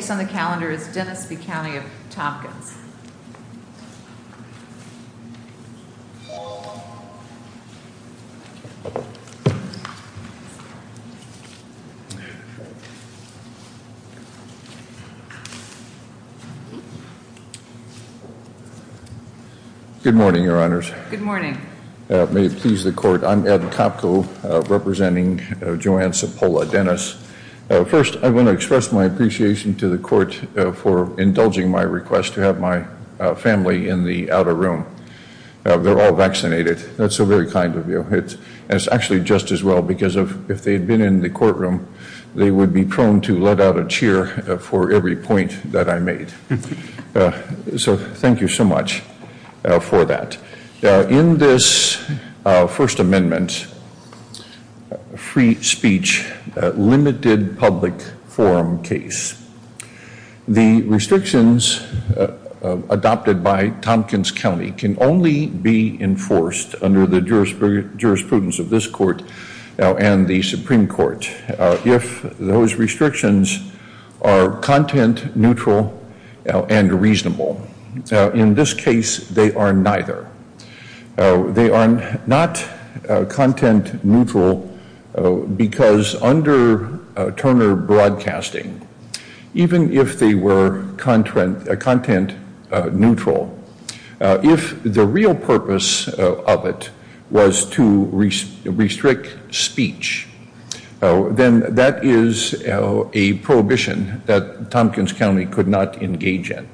The case on the calendar is Dennis v. County of Tompkins. Good morning, Your Honors. Good morning. May it please the Court, I'm Ed Kopko, representing Joanne Cipolla-Dennis. First, I want to express my appreciation to the Court for indulging my request to have my family in the outer room. They're all vaccinated. That's so very kind of you. It's actually just as well because if they had been in the courtroom, they would be prone to let out a cheer for every point that I made. So thank you so much for that. In this First Amendment free speech limited public forum case, the restrictions adopted by Tompkins County can only be enforced under the jurisprudence of this Court and the Supreme Court if those restrictions are content neutral and reasonable. In this case, they are neither. They are not content neutral because under Turner Broadcasting, even if they were content neutral, if the real purpose of it was to restrict speech, then that is a prohibition that Tompkins County could not engage in.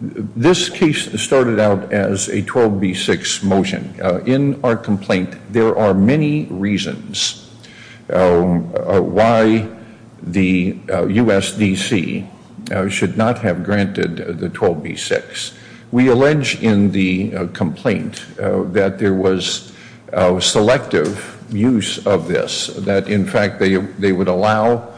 This case started out as a 12B6 motion. In our complaint, there are many reasons why the USDC should not have granted the 12B6. We allege in the complaint that there was selective use of this, that in fact they would allow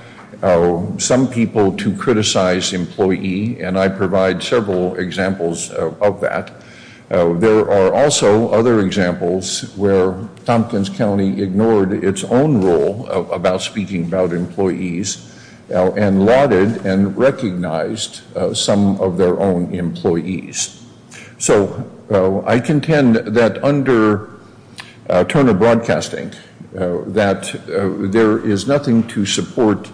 some people to criticize employee, and I provide several examples of that. There are also other examples where Tompkins County ignored its own rule about speaking about employees and lauded and recognized some of their own employees. So I contend that under Turner Broadcasting, that there is nothing to support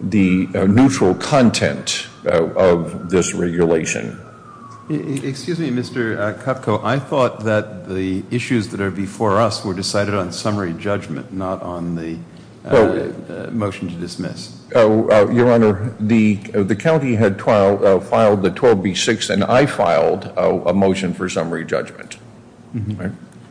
the neutral content of this regulation. Excuse me, Mr. Kupko, I thought that the issues that are before us were decided on summary judgment, not on the motion to dismiss. Your Honor, the county had filed the 12B6 and I filed a motion for summary judgment.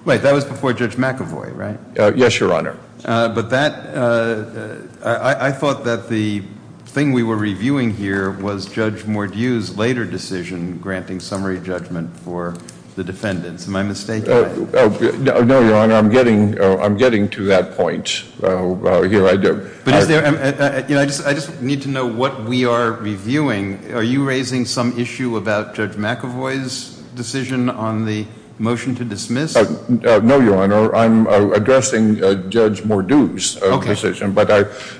Wait, that was before Judge McAvoy, right? Yes, Your Honor. But that, I thought that the thing we were reviewing here was Judge Mordew's later decision granting summary judgment for the defendants. Am I mistaken? No, Your Honor, I'm getting to that point. Here I do. But is there, you know, I just need to know what we are reviewing. Are you raising some issue about Judge McAvoy's decision on the motion to dismiss? No, Your Honor, I'm addressing Judge Mordew's decision, but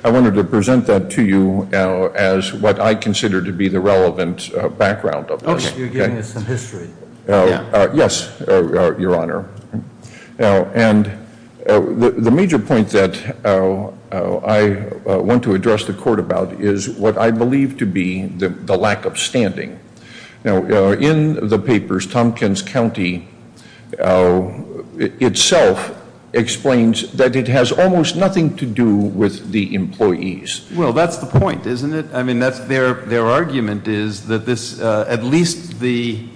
I wanted to present that to you as what I consider to be the relevant background of this. Oh, so you're giving us some history. Yes, Your Honor. And the major point that I want to address the court about is what I believe to be the lack of standing. In the papers, Tompkins County itself explains that it has almost nothing to do with the employees. Well, that's the point, isn't it? I mean, that's their argument is that this, at least the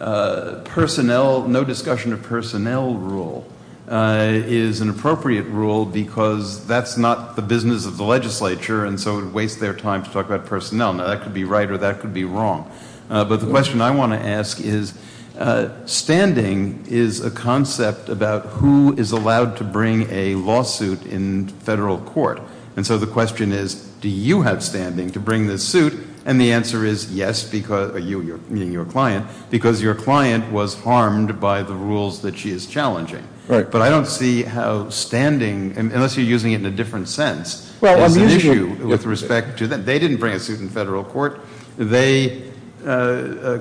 personnel, no discussion of personnel rule is an appropriate rule because that's not the business of the legislature and so it would waste their time to talk about personnel. Now, that could be right or that could be wrong. But the question I want to ask is standing is a concept about who is allowed to bring a lawsuit in federal court. And so the question is, do you have standing to bring this suit? And the answer is yes, meaning your client, because your client was harmed by the rules that she is challenging. But I don't see how standing, unless you're using it in a different sense, is an issue with respect to that. They didn't bring a suit in federal court. They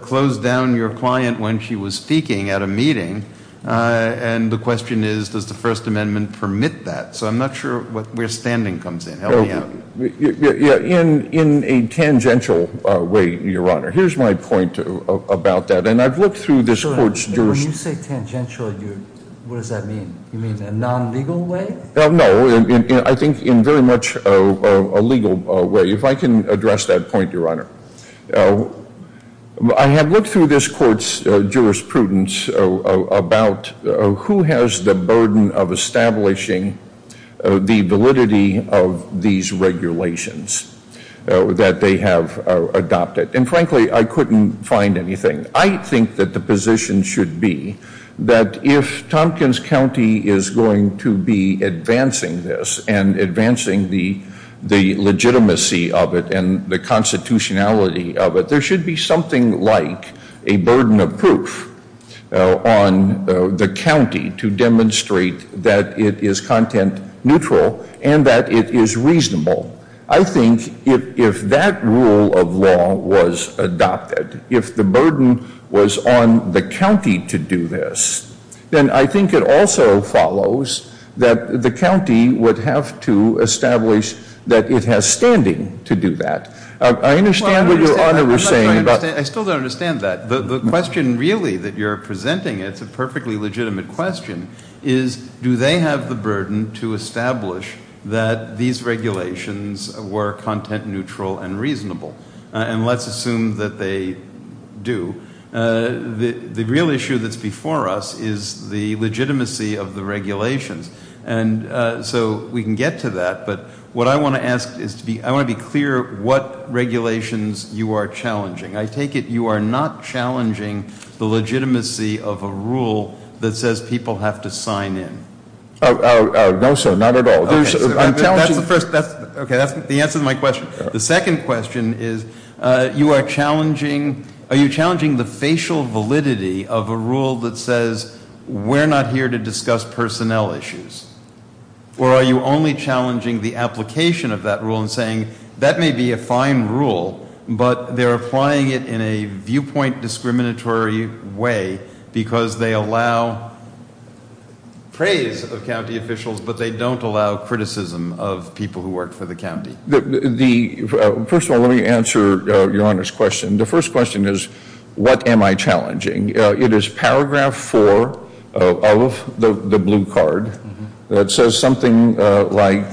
closed down your client when she was speaking at a meeting. And the question is, does the First Amendment permit that? So I'm not sure where standing comes in. Help me out. Yeah, in a tangential way, Your Honor. Here's my point about that. And I've looked through this court's jurisprudence. When you say tangential, what does that mean? You mean in a non-legal way? No, I think in very much a legal way. If I can address that point, Your Honor. I have looked through this court's jurisprudence about who has the burden of establishing the validity of these regulations that they have adopted. And frankly, I couldn't find anything. I think that the position should be that if Tompkins County is going to be advancing this and advancing the legitimacy of it and the constitutionality of it, there should be something like a burden of proof on the county to demonstrate that it is content neutral and that it is reasonable. I think if that rule of law was adopted, if the burden was on the county to do this, then I think it also follows that the county would have to establish that it has standing to do that. I understand what Your Honor was saying. I still don't understand that. The question really that you're presenting, it's a perfectly legitimate question, is do they have the burden to establish that these regulations were content neutral and reasonable? And let's assume that they do. The real issue that's before us is the legitimacy of the regulations. And so we can get to that, but what I want to ask is to be, I want to be clear what regulations you are challenging. I take it you are not challenging the legitimacy of a rule that says people have to sign in. Oh, no sir, not at all. That's the first, that's, okay, that's the answer to my question. The second question is you are challenging, are you challenging the facial validity of a rule that says we're not here to discuss personnel issues? Or are you only challenging the application of that rule and saying that may be a fine rule, but they're applying it in a viewpoint discriminatory way because they allow praise of county officials, but they don't allow criticism of people who work for the county? The, first of all, let me answer Your Honor's question. The first question is what am I challenging? It is paragraph four of the blue card that says something like,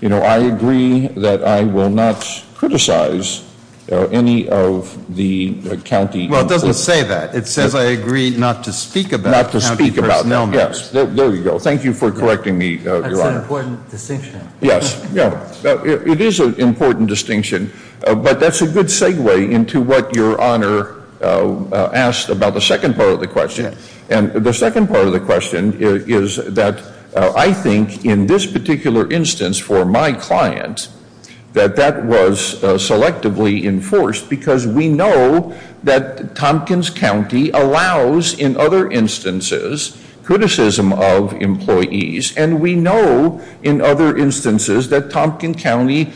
you know, I agree that I will not criticize any of the county. Well, it doesn't say that. It says I agree not to speak about county personnel matters. Yes, there you go. Thank you for correcting me, Your Honor. That's an important distinction. Yes, yeah, it is an important distinction. But that's a good segue into what Your Honor asked about the second part of the question. And the second part of the question is that I think in this particular instance for my client that that was selectively enforced because we know that Tompkins County allows in other instances criticism of employees. And we know in other instances that Tompkins County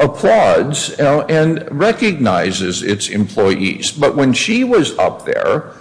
applauds and recognizes its employees. But when she was up there,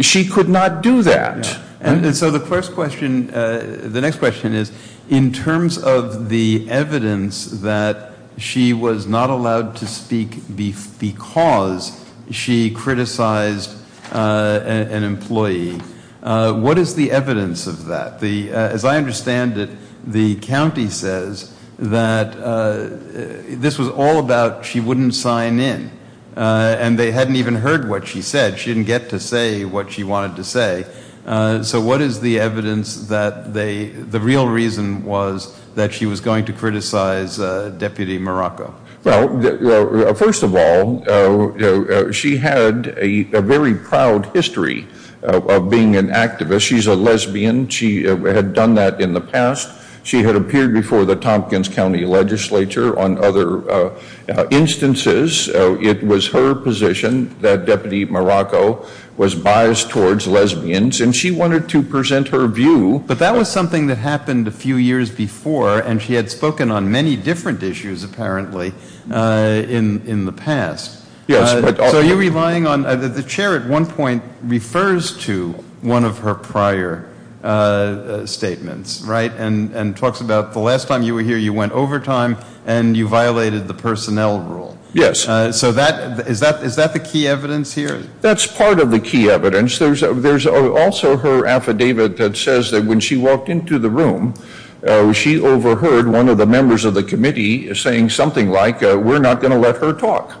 she could not do that. And so the first question, the next question is in terms of the evidence that she was not allowed to speak because she criticized an employee. What is the evidence of that? As I understand it, the county says that this was all about she wouldn't sign in. And they hadn't even heard what she said. She didn't get to say what she wanted to say. So what is the evidence that they, the real reason was that she was going to criticize Deputy Morocco? Well, first of all, she had a very proud history of being an activist. She's a lesbian. She had done that in the past. She had appeared before the Tompkins County Legislature on other instances. It was her position that Deputy Morocco was biased towards lesbians. And she wanted to present her view. But that was something that happened a few years before. And she had spoken on many different issues apparently in the past. So are you relying on, the chair at one point refers to one of her prior statements, right? And talks about the last time you were here, you went overtime and you violated the personnel rule. So that, is that the key evidence here? That's part of the key evidence. There's also her affidavit that says that when she walked into the room, she overheard one of the members of the committee saying something like we're not going to let her talk,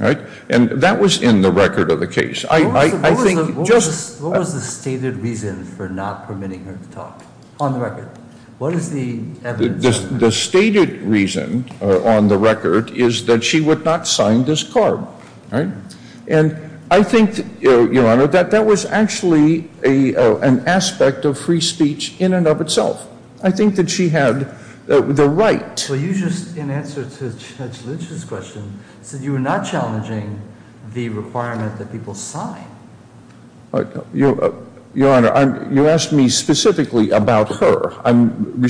right? And that was in the record of the case. I think just. What was the stated reason for not permitting her to talk on the record? What is the evidence? The stated reason on the record is that she would not sign this card, right? And I think, Your Honor, that that was actually an aspect of free speech in and of itself. I think that she had the right. So you just, in answer to Judge Litch's question, said you were not challenging the requirement that people sign. Your Honor, you asked me specifically about her. I'm.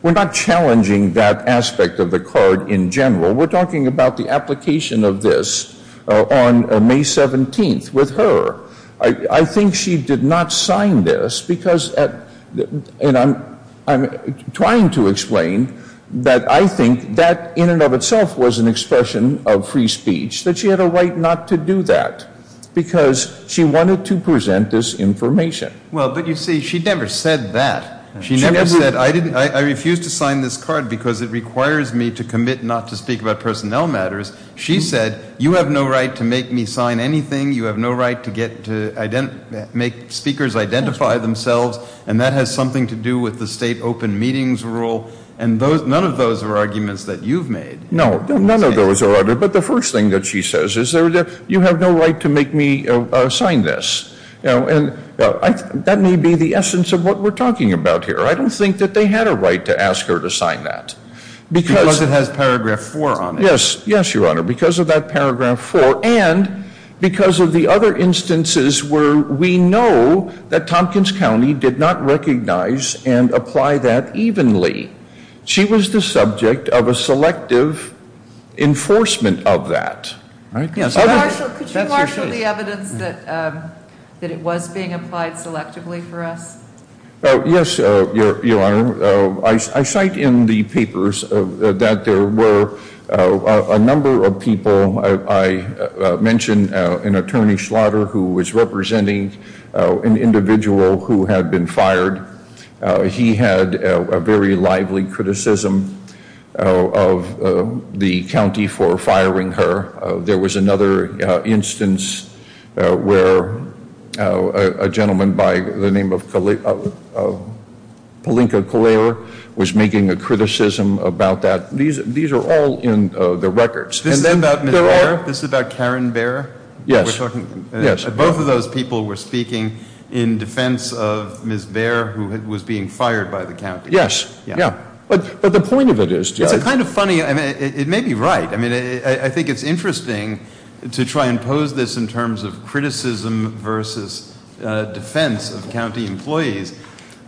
We're not challenging that aspect of the card in general. We're talking about the application of this on May 17th with her. I think she did not sign this because, and I'm trying to explain that I think that in and of itself was an expression of free speech, that she had a right not to do that. Because she wanted to present this information. Well, but you see, she never said that. She never said, I refused to sign this card because it requires me to commit not to speak about personnel matters. She said, you have no right to make me sign anything. You have no right to get to make speakers identify themselves. And that has something to do with the state open meetings rule. And none of those are arguments that you've made. No, none of those are, but the first thing that she says is, you have no right to make me sign this. And that may be the essence of what we're talking about here. I don't think that they had a right to ask her to sign that. Because it has paragraph four on it. Yes, yes, your honor, because of that paragraph four and because of the other instances where we know that Tompkins County did not recognize and apply that evenly. She was the subject of a selective enforcement of that. Could you marshal the evidence that it was being applied selectively for us? Yes, your honor, I cite in the papers that there were a number of people. I mentioned an attorney slaughter who was representing an individual who had been fired. He had a very lively criticism of the county for firing her. There was another instance where a gentleman by the name of Polinka Collier was making a criticism about that. These are all in the records. And then there are- This is about Karen Bair? Yes, yes. Both of those people were speaking in defense of Ms. Bair, who was being fired by the county. Yes, yeah, but the point of it is- It's a kind of funny, it may be right. I mean, I think it's interesting to try and pose this in terms of criticism versus defense of county employees.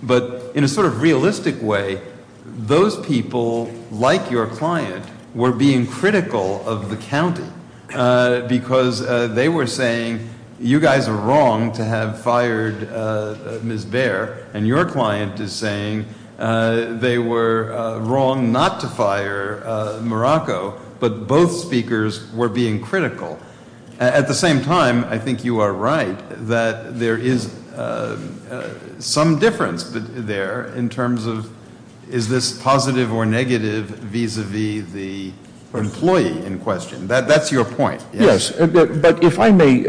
But in a sort of realistic way, those people, like your client, were being critical of the county because they were saying, you guys are wrong to have fired Ms. Bair. And your client is saying they were wrong not to fire Morocco. But both speakers were being critical. At the same time, I think you are right that there is some difference there in terms of, is this positive or negative vis-a-vis the employee in question? That's your point. Yes, but if I may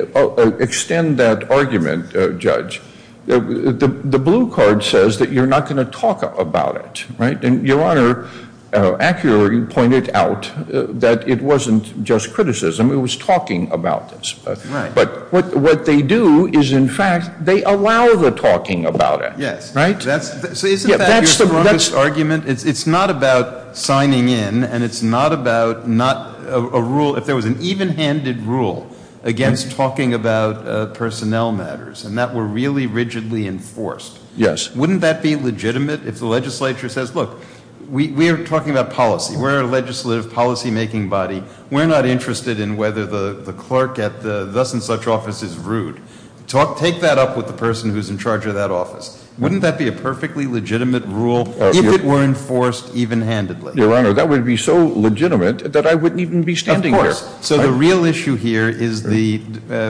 extend that argument, Judge. The blue card says that you're not going to talk about it, right? And your honor, accurately pointed out that it wasn't just criticism, it was talking about this. But what they do is, in fact, they allow the talking about it. Yes, so isn't that your strongest argument? It's not about signing in, and it's not about a rule, if there was an even-handed rule against talking about personnel matters, and that were really rigidly enforced. Yes. Wouldn't that be legitimate if the legislature says, look, we are talking about policy. We're a legislative policy-making body. We're not interested in whether the clerk at the thus and such office is rude. Take that up with the person who's in charge of that office. Wouldn't that be a perfectly legitimate rule if it were enforced even-handedly? Your honor, that would be so legitimate that I wouldn't even be standing here. Of course. So the real issue here is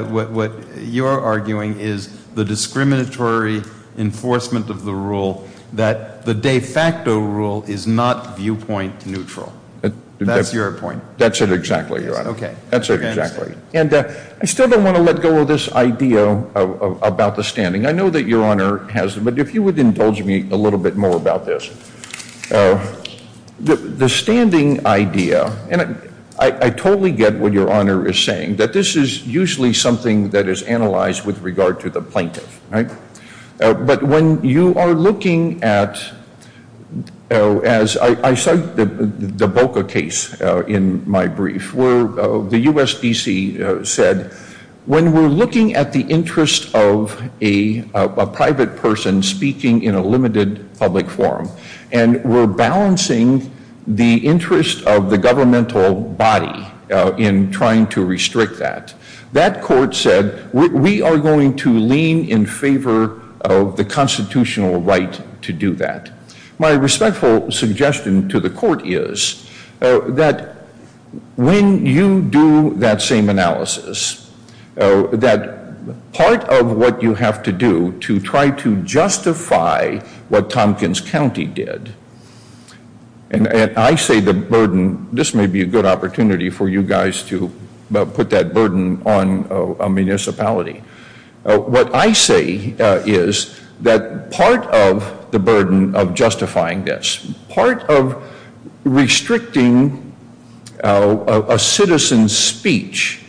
what you're arguing is the discriminatory enforcement of the rule, that the de facto rule is not viewpoint neutral. That's your point. That's it exactly, your honor. Okay. That's it exactly. And I still don't want to let go of this idea about the standing. I know that your honor has it, but if you would indulge me a little bit more about this. The standing idea, and I totally get what your honor is saying, that this is usually something that is analyzed with regard to the plaintiff, right? But when you are looking at, as I cite the Boca case in my brief, where the USDC said, when we're looking at the interest of a private person speaking in a limited public forum, and we're balancing the interest of the governmental body in trying to restrict that, that court said, we are going to lean in favor of the constitutional right to do that. My respectful suggestion to the court is that when you do that same analysis, that part of what you have to do to try to justify what Tompkins County did, and I say the burden, this may be a good opportunity for you guys to put that burden on a municipality. What I say is that part of the burden of justifying this, part of restricting a citizen's speech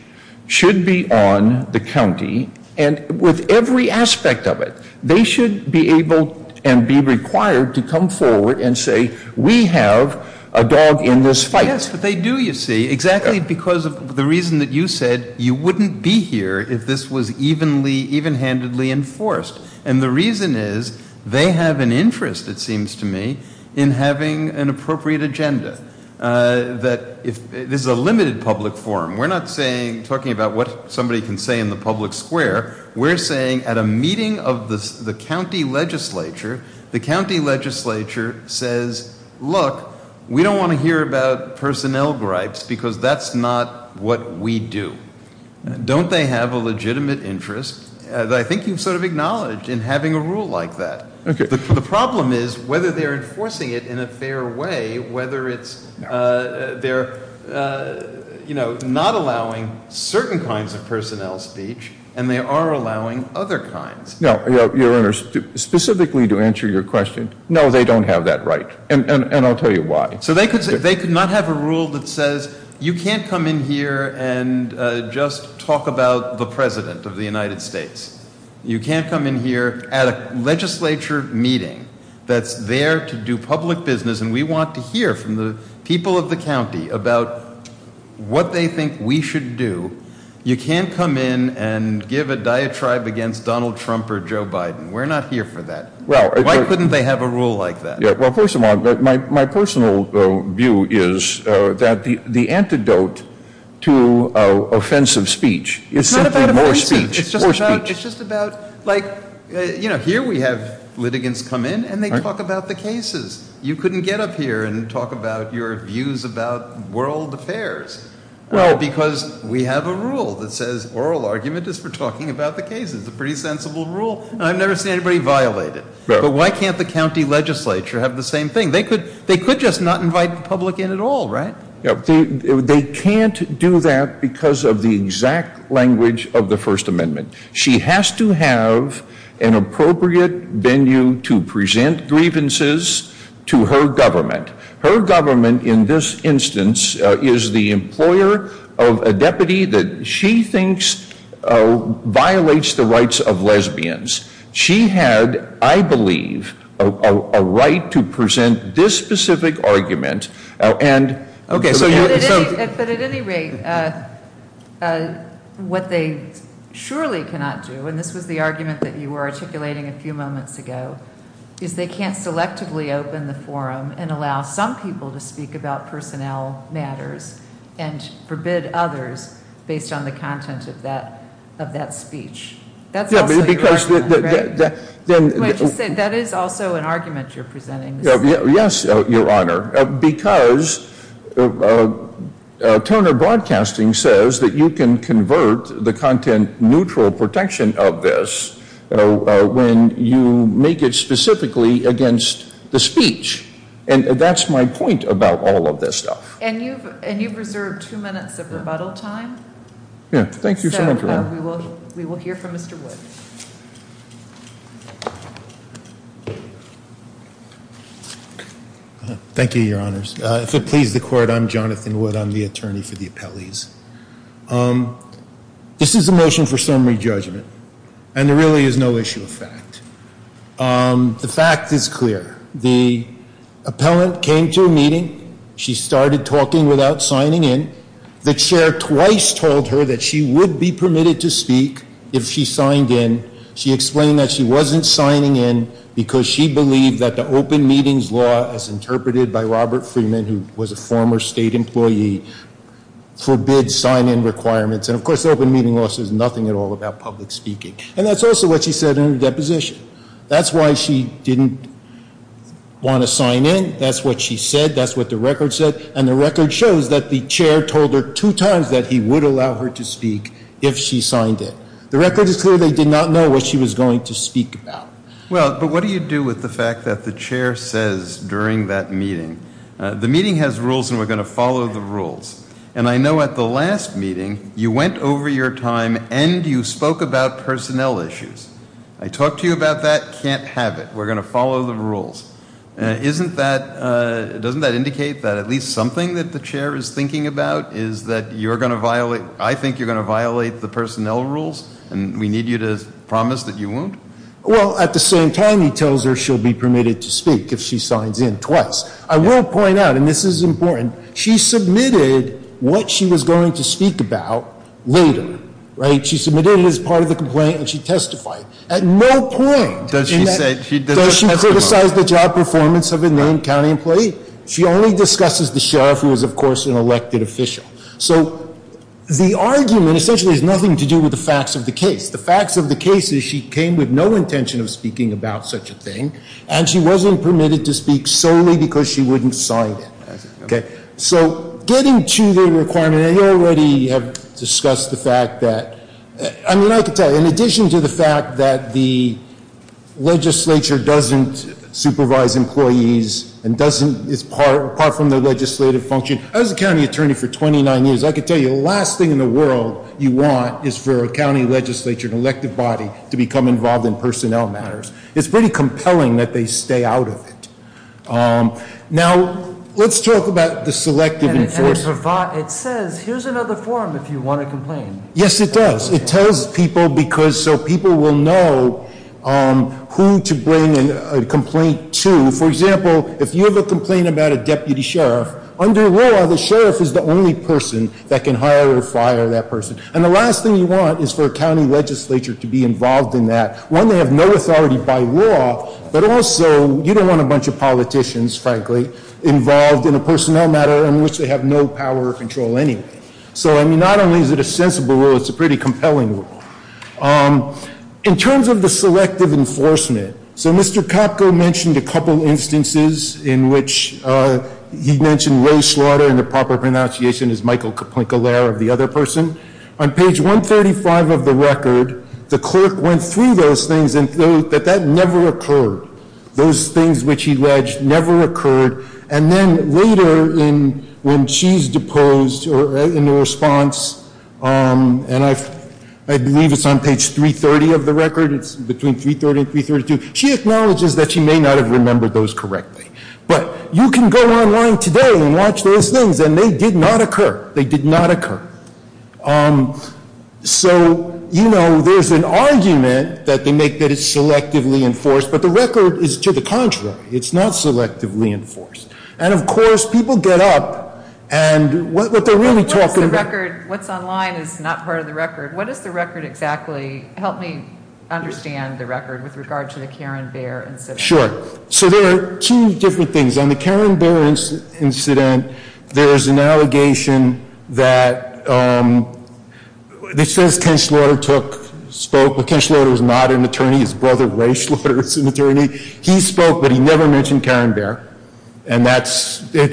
should be on the county, and with every aspect of it. They should be able and be required to come forward and say, we have a dog in this fight. Yes, but they do, you see, exactly because of the reason that you said, you wouldn't be here if this was evenhandedly enforced. And the reason is, they have an interest, it seems to me, in having an appropriate agenda. That if, this is a limited public forum, we're not saying, talking about what somebody can say in the public square. We're saying, at a meeting of the county legislature, the county legislature says, look, we don't want to hear about personnel gripes, because that's not what we do. Don't they have a legitimate interest, that I think you've sort of acknowledged, in having a rule like that. The problem is, whether they're enforcing it in a fair way, whether it's they're not allowing certain kinds of personnel speech, and they are allowing other kinds. Now, your honor, specifically to answer your question, no, they don't have that right, and I'll tell you why. So they could not have a rule that says, you can't come in here and just talk about the President of the United States. You can't come in here at a legislature meeting that's there to do public business, and we want to hear from the people of the county about what they think we should do. You can't come in and give a diatribe against Donald Trump or Joe Biden. We're not here for that. Why couldn't they have a rule like that? Yeah, well, first of all, my personal view is that the antidote to offensive speech is simply more speech. More speech. It's just about, like, here we have litigants come in, and they talk about the cases. You couldn't get up here and talk about your views about world affairs. Well, because we have a rule that says oral argument is for talking about the cases, a pretty sensible rule, and I've never seen anybody violate it. But why can't the county legislature have the same thing? They could just not invite the public in at all, right? Yeah, they can't do that because of the exact language of the First Amendment. She has to have an appropriate venue to present grievances to her government. Her government, in this instance, is the employer of a deputy that she thinks violates the rights of lesbians. She had, I believe, a right to present this specific argument, and- Okay, so you- But at any rate, what they surely cannot do, and this was the argument that you were articulating a few moments ago, is they can't selectively open the forum and allow some people to speak about personnel matters and forbid others based on the content of that speech. That's also your argument, right? Wait, you said that is also an argument you're presenting. Yes, Your Honor, because Turner Broadcasting says that you can convert the content neutral protection of this when you make it specifically against the speech. And that's my point about all of this stuff. And you've reserved two minutes of rebuttal time. Yeah, thank you so much, Your Honor. We will hear from Mr. Wood. Thank you, Your Honors. If it pleases the court, I'm Jonathan Wood. I'm the attorney for the appellees. This is a motion for summary judgment, and there really is no issue of fact. The fact is clear. The appellant came to a meeting. She started talking without signing in. The chair twice told her that she would be permitted to speak if she signed in. She explained that she wasn't signing in because she believed that the open meetings law, as interpreted by Robert Freeman, who was a former state employee, forbids sign-in requirements. And of course, open meeting law says nothing at all about public speaking. And that's also what she said in her deposition. That's why she didn't want to sign in. That's what she said. That's what the record said. And the record shows that the chair told her two times that he would allow her to speak if she signed in. The record is clear they did not know what she was going to speak about. Well, but what do you do with the fact that the chair says during that meeting, the meeting has rules and we're going to follow the rules. And I know at the last meeting, you went over your time and you spoke about personnel issues. I talked to you about that, can't have it. We're going to follow the rules. Doesn't that indicate that at least something that the chair is thinking about is that you're going to violate, I think you're going to violate the personnel rules and we need you to promise that you won't? Well, at the same time, he tells her she'll be permitted to speak if she signs in twice. I will point out, and this is important, she submitted what she was going to speak about later, right? She submitted it as part of the complaint and she testified. At no point does she criticize the job performance of a named county employee. She only discusses the sheriff, who is of course an elected official. So the argument essentially has nothing to do with the facts of the case. The facts of the case is she came with no intention of speaking about such a thing, and she wasn't permitted to speak solely because she wouldn't sign it, okay? So getting to the requirement, I already have discussed the fact that, I mean, I can tell you, in addition to the fact that the legislature doesn't supervise employees and doesn't, apart from the legislative function, I was a county attorney for 29 years. I can tell you, the last thing in the world you want is for a county legislature, an elected body, to become involved in personnel matters. It's pretty compelling that they stay out of it. Now, let's talk about the selective enforcement. It says, here's another forum if you want to complain. Yes, it does. It tells people because so people will know who to bring a complaint to. For example, if you have a complaint about a deputy sheriff, under law, the sheriff is the only person that can hire or fire that person. And the last thing you want is for a county legislature to be involved in that. One, they have no authority by law, but also, you don't want a bunch of politicians, frankly, involved in a personnel matter in which they have no power or control anyway. So, I mean, not only is it a sensible rule, it's a pretty compelling rule. In terms of the selective enforcement, so Mr. Capco mentioned a couple instances in which he mentioned Ray Slaughter, and the proper pronunciation is Michael Caplinka-Lair of the other person. On page 135 of the record, the clerk went through those things and thought that that never occurred. Those things which he ledged never occurred. And then later, when she's deposed in response, and I believe it's on page 330 of the record, it's between 330 and 332. She acknowledges that she may not have remembered those correctly. But you can go online today and watch those things, and they did not occur. They did not occur. So there's an argument that they make that it's selectively enforced, but the record is to the contrary. It's not selectively enforced. And of course, people get up, and what they're really talking about- What's online is not part of the record. What is the record exactly? Help me understand the record with regard to the Karen Baer incident. Sure. So there are two different things. On the Karen Baer incident, there is an allegation that it says Ken Slaughter spoke, but Ken Slaughter is not an attorney. His brother, Ray Slaughter, is an attorney. He spoke, but he never mentioned Karen Baer, and it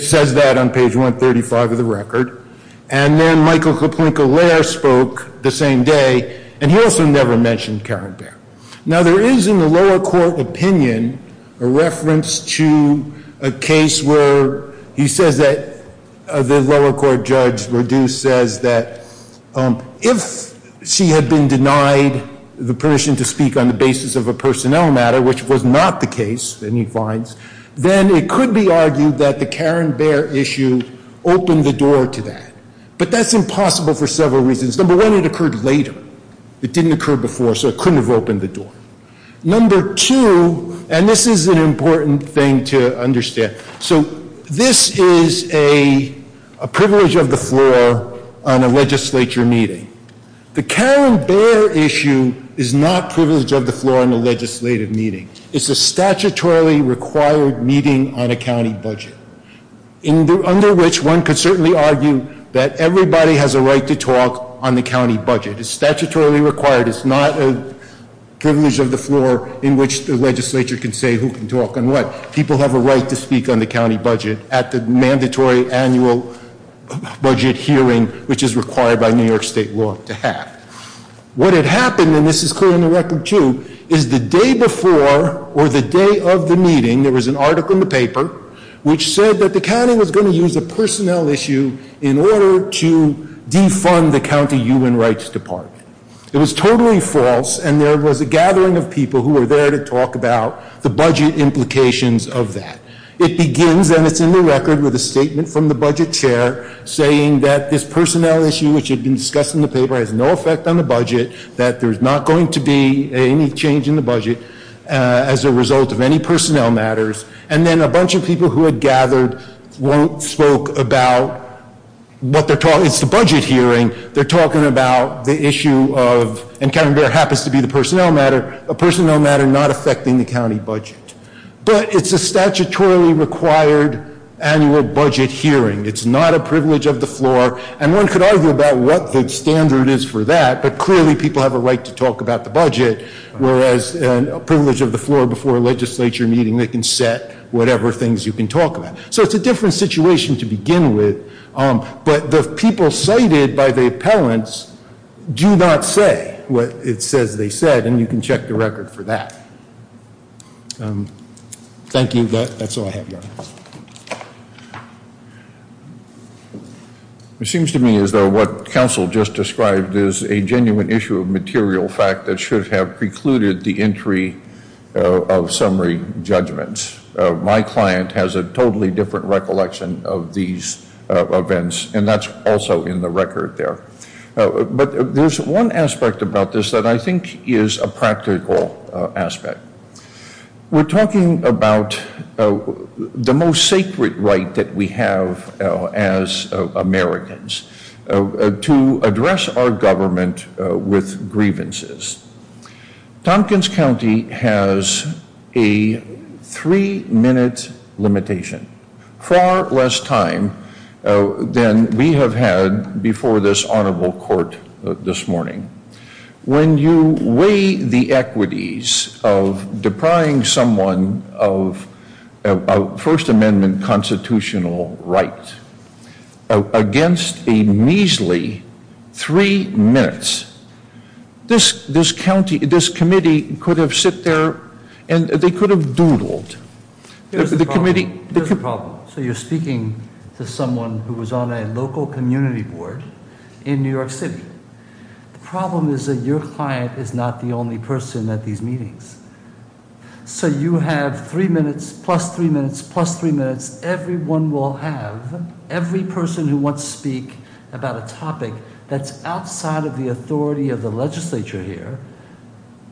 says that on page 135 of the record. And then Michael Koplinka-Lair spoke the same day, and he also never mentioned Karen Baer. Now there is, in the lower court opinion, a reference to a case where he says that, the lower court judge, Reduce, says that if she had been denied the permission to speak on the basis of a personnel matter, which was not the case, then he finds, then it could be argued that the Karen Baer issue opened the door to that. But that's impossible for several reasons. Number one, it occurred later. It didn't occur before, so it couldn't have opened the door. Number two, and this is an important thing to understand. So this is a privilege of the floor on a legislature meeting. The Karen Baer issue is not privilege of the floor in a legislative meeting. It's a statutorily required meeting on a county budget, under which one could certainly argue that everybody has a right to talk on the county budget. It's statutorily required, it's not a privilege of the floor in which the legislature can say who can talk and what. People have a right to speak on the county budget at the mandatory annual budget hearing, which is required by New York State law to have. What had happened, and this is clear in the record too, is the day before, or the day of the meeting, there was an article in the paper which said that the county was going to use a personnel issue in order to defund the county human rights department. It was totally false, and there was a gathering of people who were there to talk about the budget implications of that. It begins, and it's in the record, with a statement from the budget chair saying that this personnel issue, which had been discussed in the paper, has no effect on the budget, that there's not going to be any change in the budget as a result of any personnel matters. And then a bunch of people who had gathered spoke about what they're talking, it's the budget hearing. They're talking about the issue of, and Karen Baer happens to be the personnel matter, a personnel matter not affecting the county budget. But it's a statutorily required annual budget hearing. It's not a privilege of the floor, and one could argue about what the standard is for that. But clearly people have a right to talk about the budget, whereas a privilege of the floor before a legislature meeting, they can set whatever things you can talk about. So it's a different situation to begin with. But the people cited by the appellants do not say what it says they said, and you can check the record for that. Thank you, that's all I have, Your Honor. It seems to me as though what counsel just described is a genuine issue of material fact that should have precluded the entry of summary judgments. My client has a totally different recollection of these events, and that's also in the record there. But there's one aspect about this that I think is a practical aspect. We're talking about the most sacred right that we have as Americans to address our government with grievances. Tompkins County has a three minute limitation, far less time than we have had before this honorable court this morning. When you weigh the equities of depriving someone of First Amendment constitutional right against a measly three minutes, this committee could have sit there and they could have doodled. The committee- There's a problem. So you're speaking to someone who was on a local community board in New York City. The problem is that your client is not the only person at these meetings. So you have three minutes, plus three minutes, plus three minutes. Everyone will have, every person who wants to speak about a topic that's outside of the authority of the legislature here,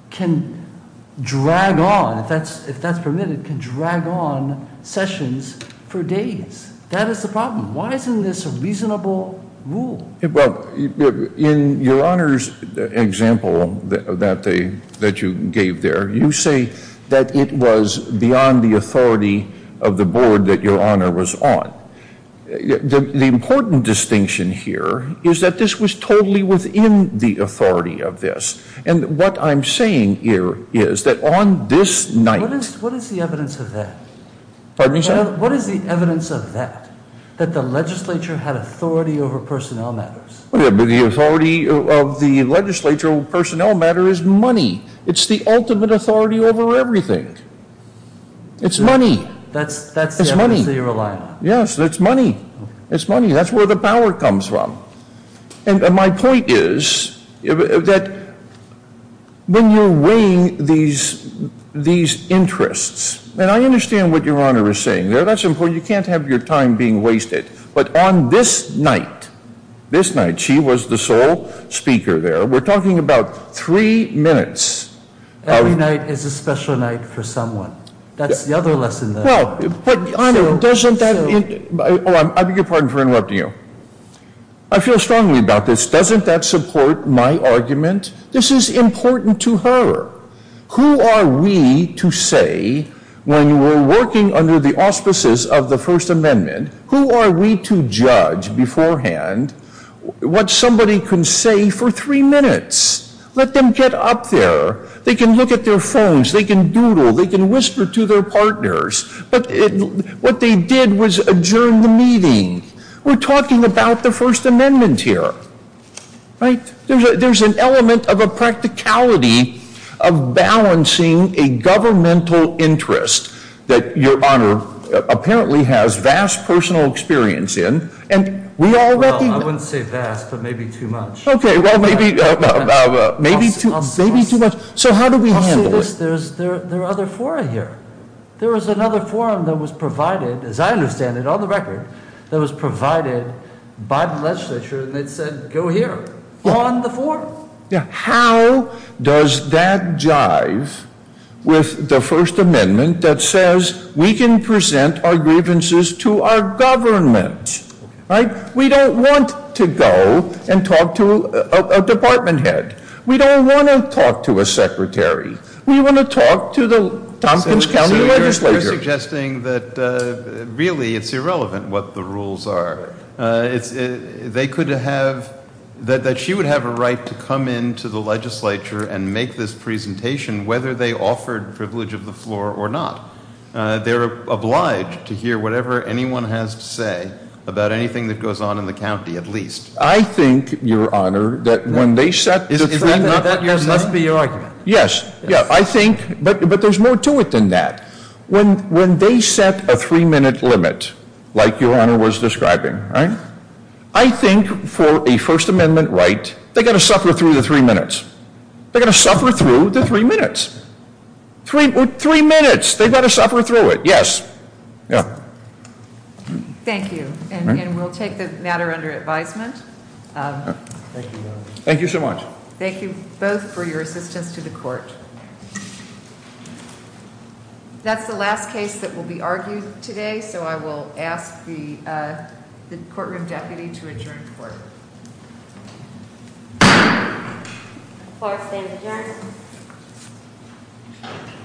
can drag on, if that's permitted, can drag on sessions for days. That is the problem. Why isn't this a reasonable rule? Well, in your honor's example that you gave there, you say that it was beyond the authority of the board that your honor was on. The important distinction here is that this was totally within the authority of this. And what I'm saying here is that on this night- Pardon me, sir? The authority of the legislature personnel matter is money. It's the ultimate authority over everything. It's money. That's the emphasis you're relying on. Yes, it's money. It's money, that's where the power comes from. And my point is that when you're weighing these interests, and I understand what your honor is saying there, that's important, you can't have your time being wasted. But on this night, this night, she was the sole speaker there. We're talking about three minutes. Every night is a special night for someone. That's the other lesson there. Well, but your honor, doesn't that- I beg your pardon for interrupting you. I feel strongly about this. Doesn't that support my argument? This is important to her. Who are we to say, when we're working under the auspices of the First Amendment, who are we to judge beforehand what somebody can say for three minutes? Let them get up there. They can look at their phones. They can doodle. They can whisper to their partners. But what they did was adjourn the meeting. We're talking about the First Amendment here, right? There's an element of a practicality of balancing a governmental interest that your honor apparently has vast personal experience in. And we all- Well, I wouldn't say vast, but maybe too much. Okay, well, maybe too much. So how do we handle it? There are other fora here. There was another forum that was provided, as I understand it, on the record, that was provided by the legislature, and it said, go here, on the forum. How does that jive with the First Amendment that says, we can present our grievances to our government, right? We don't want to go and talk to a department head. We don't want to talk to a secretary. We want to talk to the Tompkins County legislature. You're suggesting that really it's irrelevant what the rules are. They could have, that she would have a right to come into the legislature and make this presentation, whether they offered privilege of the floor or not. They're obliged to hear whatever anyone has to say about anything that goes on in the county, at least. I think, your honor, that when they set- That must be your argument. Yes, yeah, I think, but there's more to it than that. When they set a three minute limit, like your honor was describing, right? I think for a First Amendment right, they got to suffer through the three minutes. They got to suffer through the three minutes. Three minutes, they got to suffer through it. Yes, yeah. Thank you, and we'll take the matter under advisement. Thank you so much. Thank you both for your assistance to the court. That's the last case that will be argued today, so I will ask the courtroom deputy to adjourn the court. The court stands adjourned.